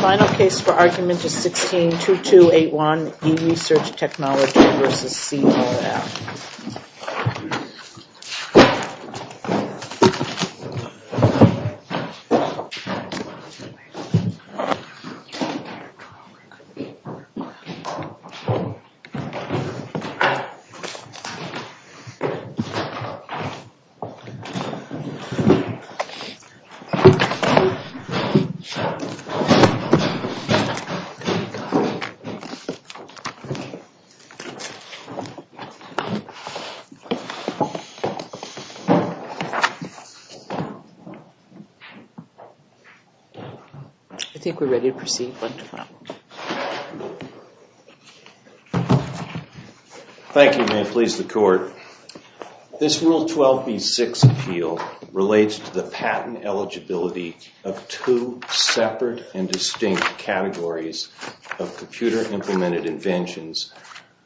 Final case for argument is 16-2281, eResearchTechnology v. CRF. Thank you and may it please the Court, this Rule 12b-6 appeal relates to the patent eligibility of two separate and distinct categories of computer-implemented inventions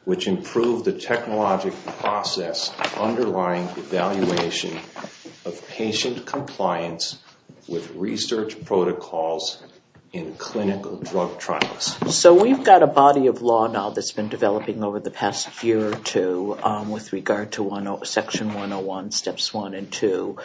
which improve the technological process underlying evaluation of patient compliance with research protocols in clinical drug trials. So we've got a body of law now that's been developing over the past year or two with regard to Section 101, Steps 1 and 2.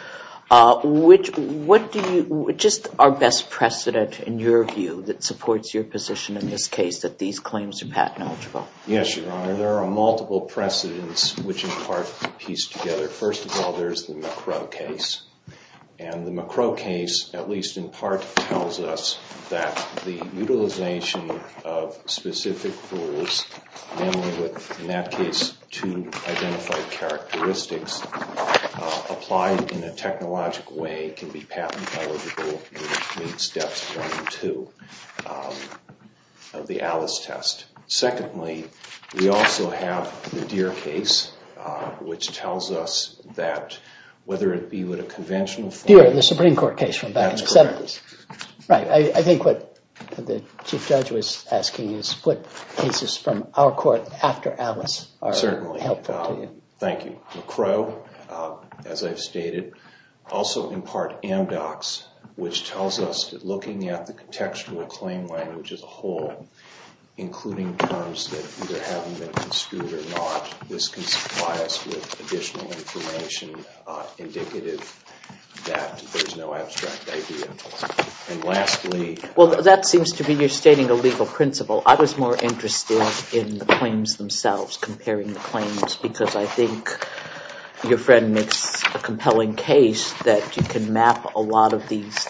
What do you, just our best precedent in your view that supports your position in this case that these claims are patent eligible? Yes, Your Honor. There are multiple precedents which in part are pieced together. First of all, there's the McCrow case and the McCrow case at least in part tells us that the utilization of specific rules mainly with, in that case, two identified characteristics applied in a technological way can be patent eligible in Steps 1 and 2 of the Alice test. Secondly, we also have the Deere case which tells us that whether it be with a conventional form... Deere, the Supreme Court case from back in the 70s. That's correct. Right. I think what the Chief Judge was asking is what cases from our court after Alice are helpful to you. Certainly. Thank you. McCrow, as I've stated, also in part MDOCS, which tells us that looking at the contextual claim language as a whole, including terms that either haven't been construed or not, this can supply us with additional information indicative that there's no abstract idea. And lastly... Well, that seems to be you're stating a legal principle. I was more interested in the claims themselves, comparing the claims, because I think your friend makes a compelling case that you can map a lot of these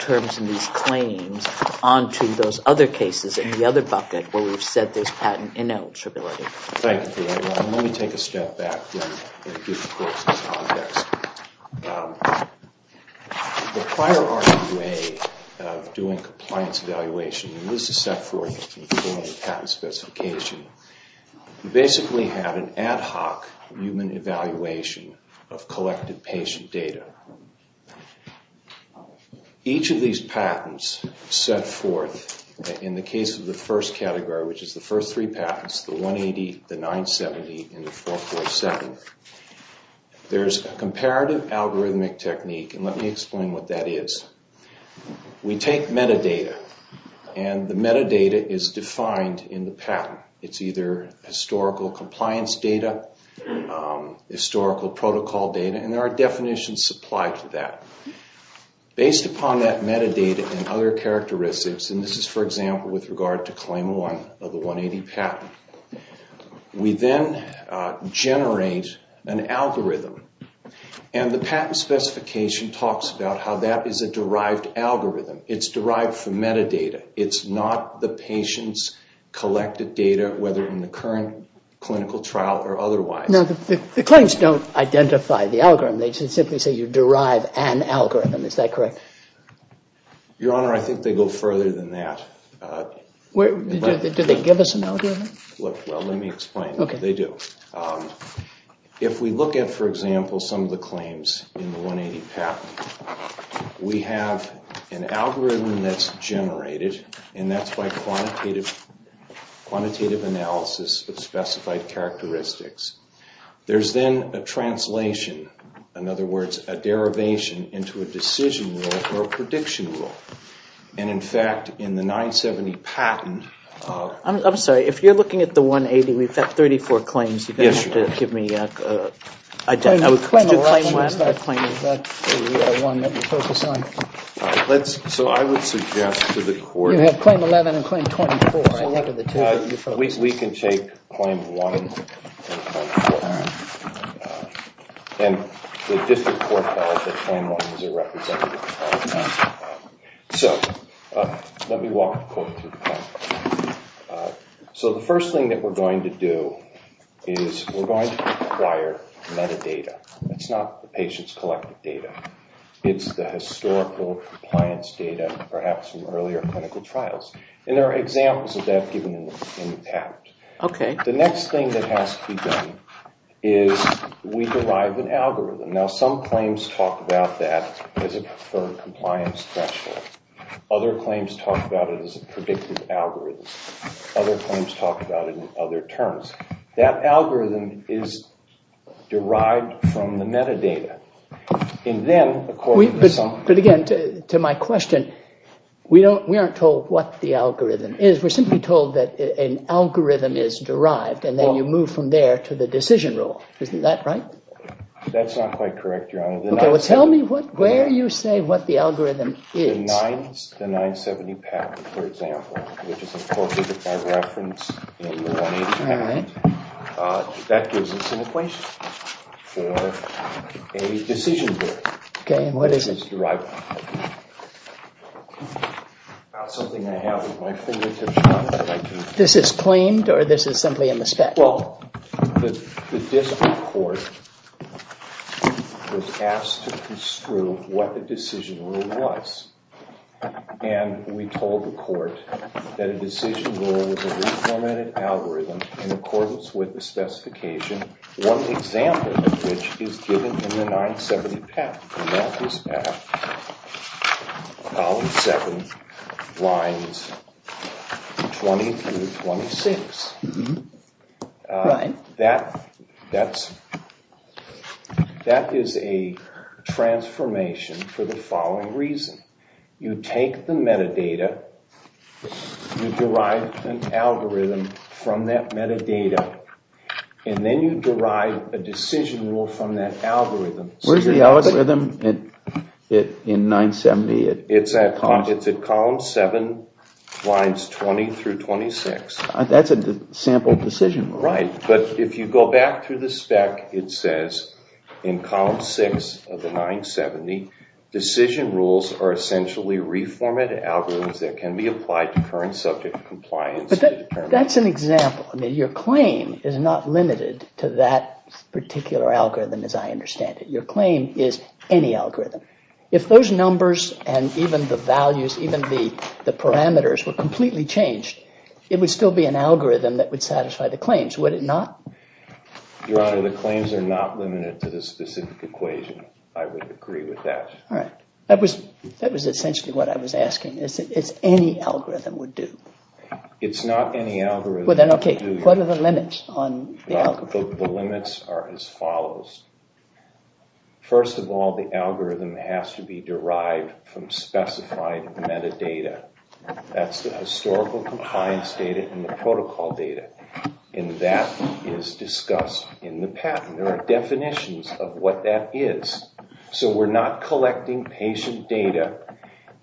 terms and these claims onto those other cases in the other bucket where we've said there's patent ineligibility. Thank you, Your Honor. Let me take a step back, then, and give the court some context. The prior RQA of doing compliance evaluation, and this is set forth in the form of patent specification, basically had an ad hoc human evaluation of collected patient data. Each of these patents set forth, in the case of the first category, which is the first three patents, the 180, the 970, and the 447, there's a comparative algorithmic technique, and let me explain what that is. We take metadata, and the metadata is defined in the patent. It's either historical compliance data, historical protocol data, and there are definitions supplied to that. Based upon that metadata and other characteristics, and this is, for example, with regard to claim 101 of the 180 patent, we then generate an algorithm, and the patent specification talks about how that is a derived algorithm. It's derived from metadata. It's not the patient's collected data, whether in the current clinical trial or otherwise. The claims don't identify the algorithm. They just simply say you derive an algorithm. Is that correct? Your Honor, I think they go further than that. Do they give us an algorithm? Well, let me explain. They do. If we look at, for example, some of the claims in the 180 patent, we have an algorithm that's generated, and that's by quantitative analysis of specified characteristics. There's then a translation, in other words, a derivation into a decision rule or a prediction rule. And in fact, in the 970 patent of— I'm sorry. If you're looking at the 180, we've got 34 claims you've been able to give me. Claim 11 is the one that we focus on. So I would suggest to the court— You have claim 11 and claim 24, I think, are the two that you focus on. We can take claim 1 and claim 24. And the district court held that claim 1 is a representative of claim 24. So let me walk the court through the claim. So the first thing that we're going to do is we're going to require metadata. It's not the patient's collected data. It's the historical compliance data, perhaps from earlier clinical trials. And there are examples of that given in the patent. The next thing that has to be done is we derive an algorithm. Now, some claims talk about that as a preferred compliance threshold. Other claims talk about it as a predictive algorithm. Other claims talk about it in other terms. That algorithm is derived from the metadata. And then, according to some— But again, to my question, we aren't told what the algorithm is. We're simply told that an algorithm is derived, and then you move from there to the decision rule. Isn't that right? That's not quite correct, Your Honor. Okay, well, tell me where you say what the algorithm is. The 970 patent, for example, which is a 435 reference in the 180 patent. That gives us an equation for a decision group. Okay, and what is it? It's derived from the metadata. That's something I have with my fingertips. This is claimed, or this is simply a misstep? Well, the district court was asked to construe what the decision rule was. And we told the court that a decision rule was a reformatted algorithm in accordance with the specification, one example of which is given in the 970 patent. The left is F, column 7, lines 20 through 26. Right. That is a transformation for the following reason. You take the metadata, you derive an algorithm from that metadata, and then you derive a decision rule from that algorithm. Where's the algorithm in 970? It's at column 7, lines 20 through 26. That's a sample decision rule. Right, but if you go back through the spec, it says in column 6 of the 970, decision rules are essentially reformatted algorithms that can be applied to current subject compliance. That's an example. I mean, your claim is not limited to that particular algorithm, as I understand it. Your claim is any algorithm. If those numbers and even the values, even the parameters were completely changed, it would still be an algorithm that would satisfy the claims, would it not? Your Honor, the claims are not limited to the specific equation. I would agree with that. All right. That was essentially what I was asking, is any algorithm would do? It's not any algorithm. Well then, OK, what are the limits on the algorithm? The limits are as follows. First of all, the algorithm has to be derived from specified metadata. That's the historical compliance data and the protocol data. And that is discussed in the patent. There are definitions of what that is. So we're not collecting patient data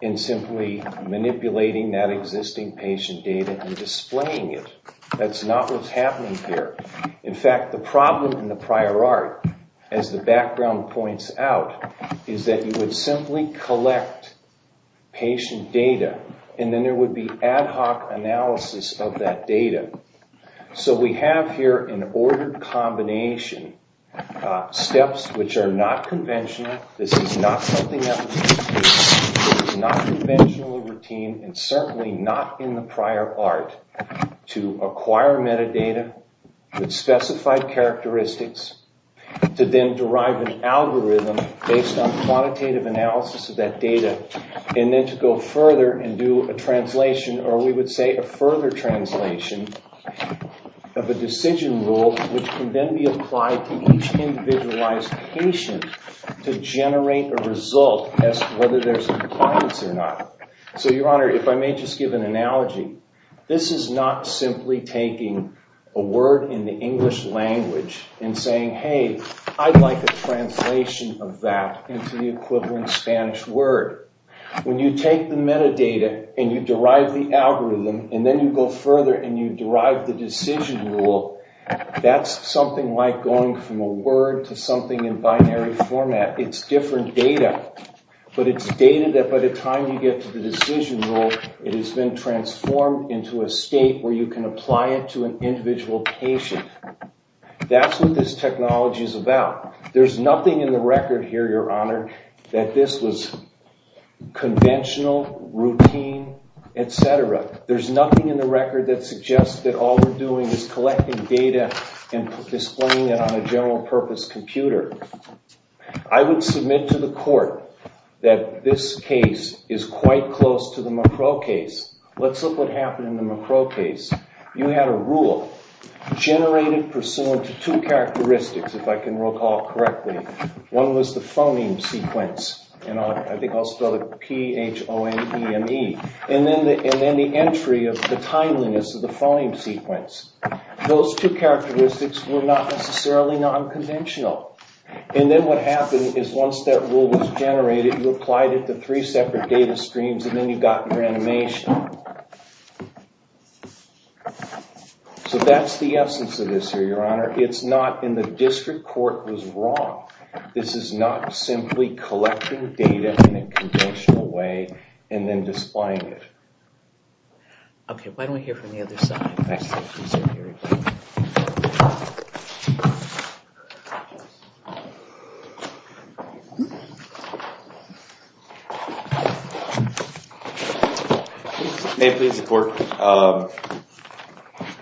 and simply manipulating that existing patient data and displaying it. That's not what's happening here. In fact, the problem in the prior art, as the background points out, is that you would simply collect patient data. And then there would be ad hoc analysis of that data. So we have here an ordered combination, steps which are not conventional. This is not something that we do. It is not conventionally routine and certainly not in the prior art to acquire metadata with specified characteristics, to then derive an algorithm based on quantitative analysis of that data, and then to go further and do a translation, or we would say a further translation of a decision rule, which can then be applied to each individualized patient to generate a result as to whether there's compliance or not. So Your Honor, if I may just give an analogy, this is not simply taking a word in the English language and saying, hey, I'd like a translation of that into the equivalent Spanish word. When you take the metadata and you derive the algorithm, and then you go further and you derive the decision rule, that's something like going from a word to something in binary format. It's different data. But it's data that by the time you get to the decision rule, it has been transformed into a state where you can apply it to an individual patient. That's what this technology is about. There's nothing in the record here, Your Honor, that this was conventional, routine, et cetera. There's nothing in the record that suggests that all we're doing is collecting data and displaying it on a general purpose computer. I would submit to the court that this case is quite close to the Macro case. Let's look what happened in the Macro case. You had a rule generated pursuant to two characteristics, if I can recall correctly. One was the phoneme sequence. And I think I'll spell it P-H-O-N-E-M-E. And then the entry of the timeliness of the phoneme sequence. Those two characteristics were not necessarily non-conventional. And then what happened is once that rule was generated, you applied it to three separate data streams, and then you got your animation. So that's the essence of this here, Your Honor. It's not in the district court was wrong. This is not simply collecting data in a conventional way and then displaying it. OK. Why don't we hear from the other side? Excellent. May it please the court,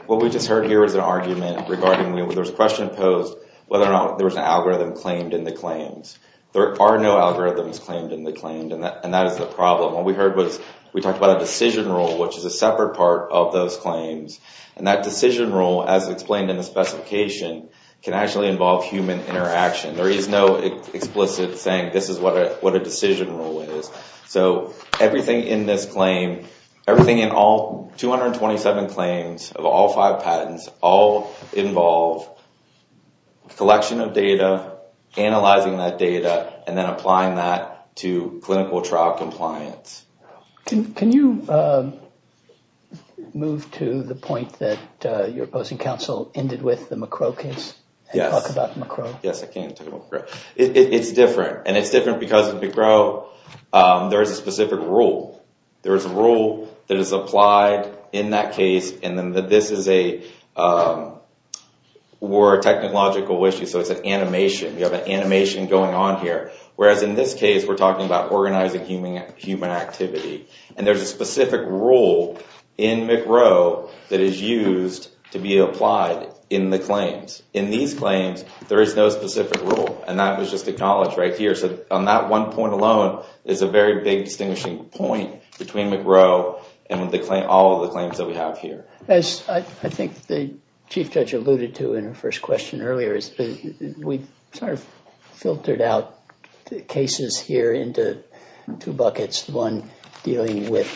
what we just heard here is an argument regarding there was a question posed whether or not there was an algorithm claimed in the claims. There are no algorithms claimed in the claims. And that is the problem. What we heard was we talked about a decision rule, which is a separate part of those claims. And that decision rule, as explained in the specification, can actually involve human interaction. There is no explicit saying this is what a decision rule is. So everything in this claim, everything in all 227 claims of all five patents all involve collection of data, analyzing that data, and then applying that to clinical trial compliance. Can you move to the point that your opposing counsel ended with the McCrow case and talk about the McCrow? Yes, I can talk about the McCrow. It's different. And it's different because of the McCrow, there is a specific rule. There is a rule that is applied in that case. And then this is a more technological issue. So it's an animation. You have an animation going on here. Whereas in this case, we're talking about organizing human activity. And there's a specific rule in McCrow that is used to be applied in the claims. In these claims, there is no specific rule. And that was just acknowledged right here. So on that one point alone, there's a very big distinguishing point between McCrow and all of the claims that we have here. I think the Chief Judge alluded to in her first question earlier is that we've sort of filtered out cases here into two buckets, one dealing with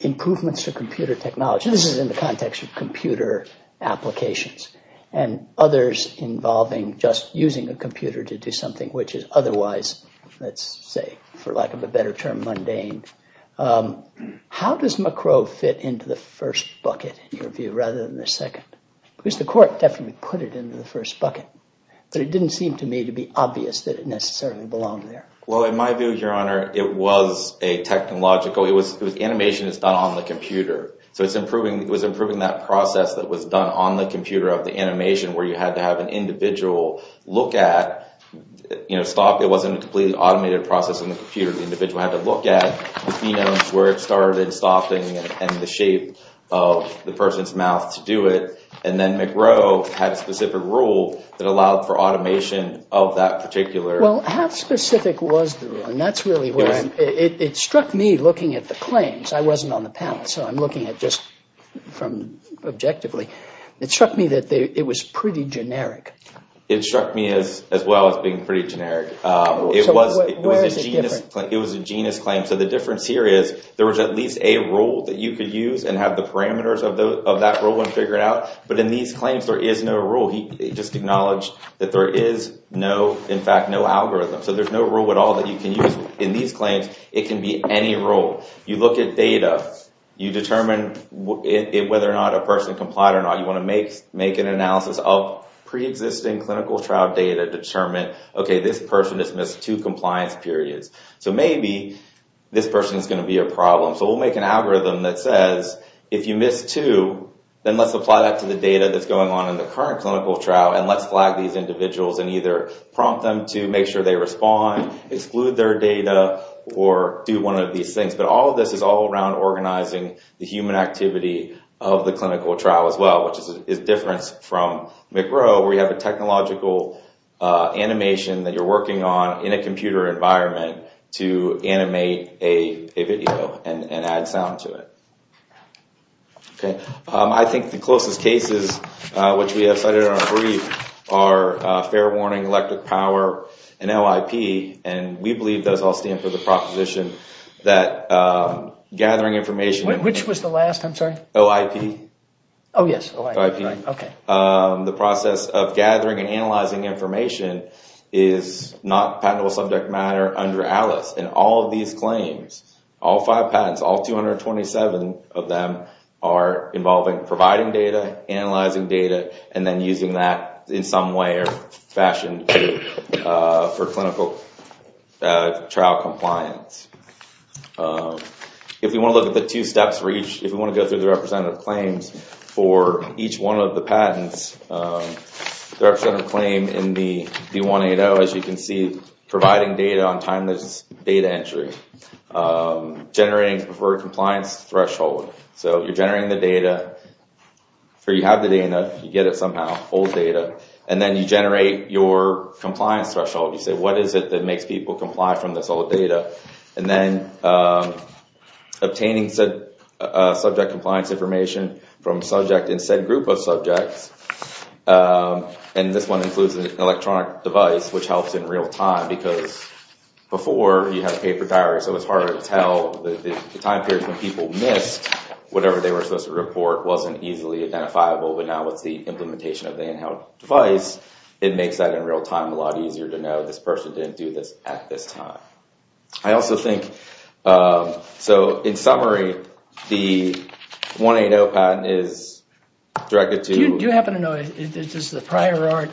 improvements to computer technology. This is in the context of computer applications and others involving just using a computer to do something which is otherwise, let's say, for lack of a better term, mundane. How does McCrow fit into the first bucket in your view rather than the second? Because the court definitely put it into the first bucket. But it didn't seem to me to be obvious that it necessarily belonged there. Well, in my view, Your Honor, it was a technological. It was animation that's done on the computer. So it was improving that process that was done on the computer of the animation where you had to have an individual look at stop. It wasn't a completely automated process in the computer. The individual had to look at the phenomes where it started stopping and the shape of the person's mouth to do it. And then McCrow had a specific rule that allowed for automation of that particular. Well, how specific was the rule? And that's really where it struck me looking at the claims. I wasn't on the panel. So I'm looking at this objectively. It struck me that it was pretty generic. It struck me as well as being pretty generic. It was a genus claim. So the difference here is there was at least a rule that you could use and have the parameters of that rule when figuring out. But in these claims, there is no rule. He just acknowledged that there is, in fact, no algorithm. So there's no rule at all that you can use. In these claims, it can be any rule. You look at data. You determine whether or not a person complied or not. You wanna make an analysis of pre-existing clinical trial data to determine, okay, this person has missed two compliance periods. So maybe this person's gonna be a problem. So we'll make an algorithm that says, if you missed two, then let's apply that to the data that's going on in the current clinical trial and let's flag these individuals and either prompt them to make sure they respond, exclude their data, or do one of these things. But all of this is all around organizing the human activity of the clinical trial as well, which is different from McRowe, where you have a technological animation that you're working on in a computer environment to animate a video and add sound to it. Okay, I think the closest cases, which we have cited in our brief, are fair warning, electric power, and LIP. And we believe those all stand for the proposition that gathering information. Which was the last, I'm sorry? OIP. Oh, yes, OIP, right, okay. The process of gathering and analyzing information is not patentable subject matter under ALICE. And all of these claims, all five patents, all 227 of them are involving providing data, analyzing data, and then using that in some way or fashion for clinical trial compliance. If we want to look at the two steps for each, if we want to go through the representative claims for each one of the patents, the representative claim in the D180, as you can see, providing data on time that's data entry. Generating for compliance threshold. So you're generating the data, or you have the data, you get it somehow, old data, and then you generate your compliance threshold. You say, what is it that makes people comply from this old data? And then obtaining said subject compliance information from subject in said group of subjects. And this one includes an electronic device, which helps in real time, because before you had a paper diary, so it's harder to tell the time period when people missed whatever they were supposed to report, wasn't easily identifiable. But now with the implementation of the in-house device, it makes that in real time a lot easier to know this person didn't do this at this time. I also think, so in summary, the 180 patent is directed to- Do you happen to know, does the prior art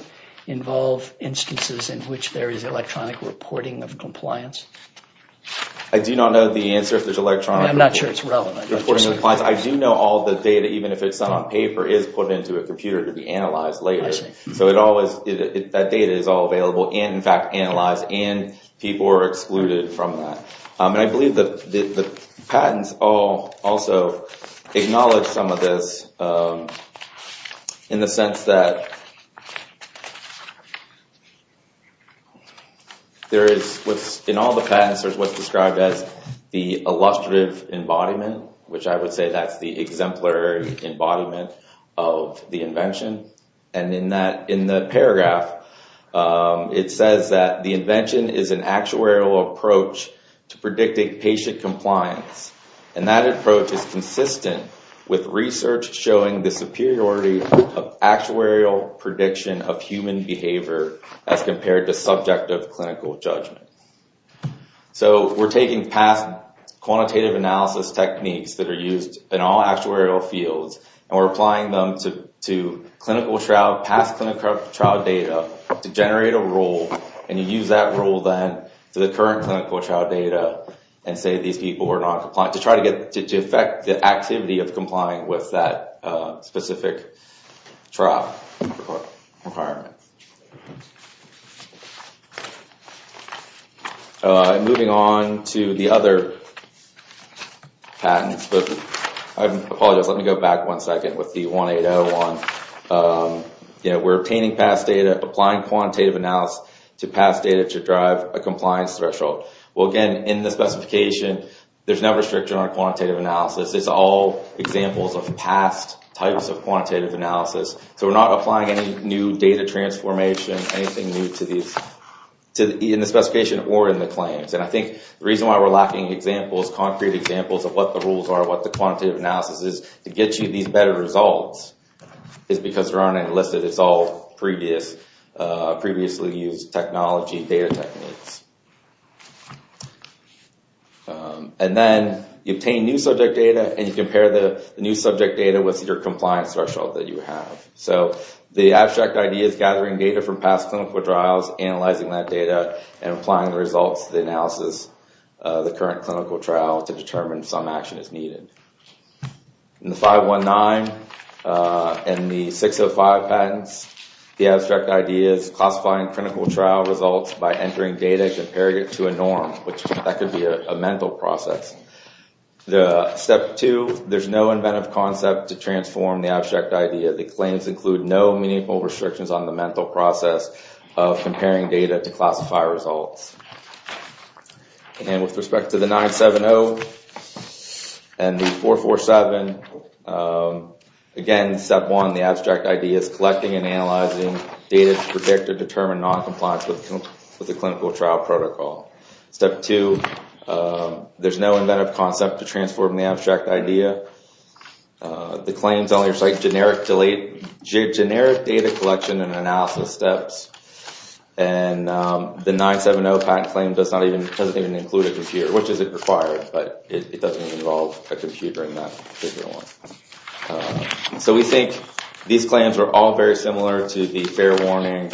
involve instances in which there is electronic reporting of compliance? I do not know the answer if there's electronic- I'm not sure it's relevant. I do know all the data, even if it's on paper, is put into a computer to be analyzed later. So it always, that data is all available, and, in fact, analyzed, and people are excluded from that. And I believe the patents also acknowledge some of this in the sense that there is, in all the patents, there's what's described as the illustrative embodiment, which I would say that's the exemplary embodiment of the invention. And in the paragraph, it says that the invention is an actuarial approach to predicting patient compliance. And that approach is consistent with research showing the superiority of actuarial prediction of human behavior as compared to subjective clinical judgment. So we're taking past quantitative analysis techniques that are used in all actuarial fields, and we're applying them to clinical trial, past clinical trial data to generate a rule, and you use that rule, then, to the current clinical trial data and say these people are not compliant, to try to get, to affect the activity of complying with that specific trial requirement. Moving on to the other patents, I apologize, let me go back one second with the 1801. We're obtaining past data, applying quantitative analysis to past data to drive a compliance threshold. Well, again, in the specification, there's no restriction on quantitative analysis. It's all examples of past types of quantitative analysis. So we're not applying any new data transformation, anything new to these, in the specification or in the claims. And I think the reason why we're lacking examples, concrete examples of what the rules are, what the quantitative analysis is, to get you these better results is because there aren't any listed. It's all previously used technology data techniques. And then you obtain new subject data and you compare the new subject data with your compliance threshold that you have. So the abstract idea is gathering data from past clinical trials, analyzing that data, and applying the results of the analysis of the current clinical trial to determine if some action is needed. In the 519 and the 605 patents, the abstract idea is classifying clinical trial results by entering data and comparing it to a norm, which that could be a mental process. The step two, there's no inventive concept to transform the abstract idea. The claims include no meaningful restrictions on the mental process of comparing data to classify results. And with respect to the 970 and the 447, again, step one, the abstract idea is collecting and analyzing data to predict or determine noncompliance with the clinical trial protocol. Step two, there's no inventive concept to transform the abstract idea. The claims only recite generic data collection and analysis steps. And the 970 patent claim doesn't even include a computer, which is required, but it doesn't even involve a computer in that particular one. So we think these claims are all very similar to the fair warning,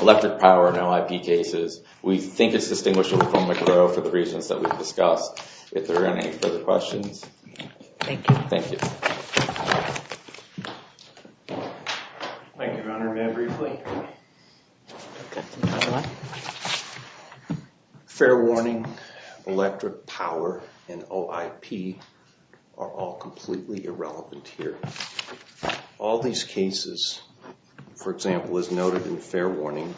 electric power, no IP cases. We think it's distinguishable from McGrow for the reasons that we've discussed. If there are any further questions. Thank you. Thank you. Thank you. Thank you, Your Honor. May I briefly? Fair warning, electric power, and OIP are all completely irrelevant here. All these cases, for example, as noted in fair warning,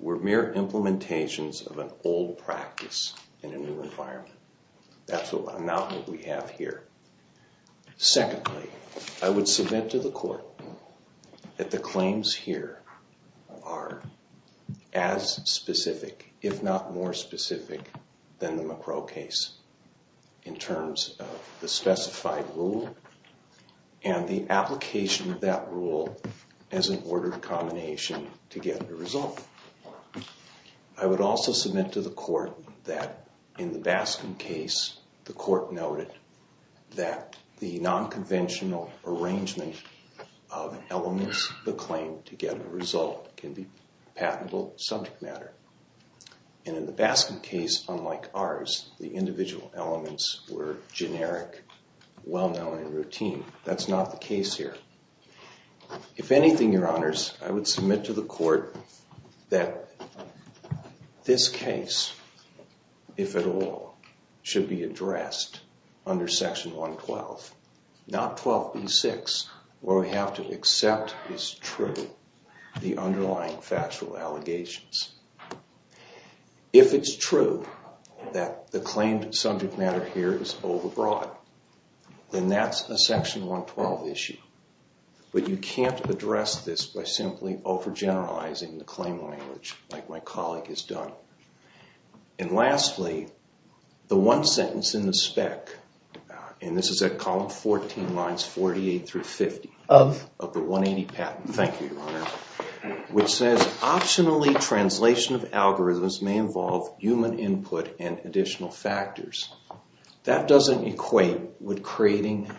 were mere implementations of an old practice in a new environment. That's the amount that we have here. Secondly, I would submit to the court that the claims here are as specific, if not more specific, than the McGrow case in terms of the specified rule and the application of that rule as an ordered combination to get the result. I would also submit to the court that in the Baskin case, the court noted that the non-conventional arrangement of elements of the claim to get a result can be patentable subject matter. And in the Baskin case, unlike ours, the individual elements were generic, well-known, and routine. That's not the case here. If anything, Your Honors, I would submit to the court that this case, if at all, should be addressed under Section 112, not 12b-6, where we have to accept as true the underlying factual allegations. If it's true that the claimed subject matter here is overbroad, then that's a Section 112 issue. But you can't address this by simply overgeneralizing the claim language like my colleague has done. And lastly, the one sentence in the spec, and this is at column 14, lines 48 through 50, of the 180 patent, thank you, Your Honor, which says, optionally, translation of algorithms may involve human input and additional factors. That doesn't equate with creating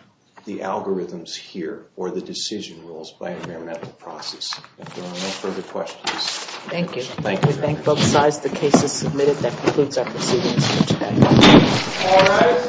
the algorithms here or the decision rules by a parametric process. If there are no further questions. Thank you. Thank you. We thank both sides. The case is submitted. That concludes our proceedings. Thank you. All rise.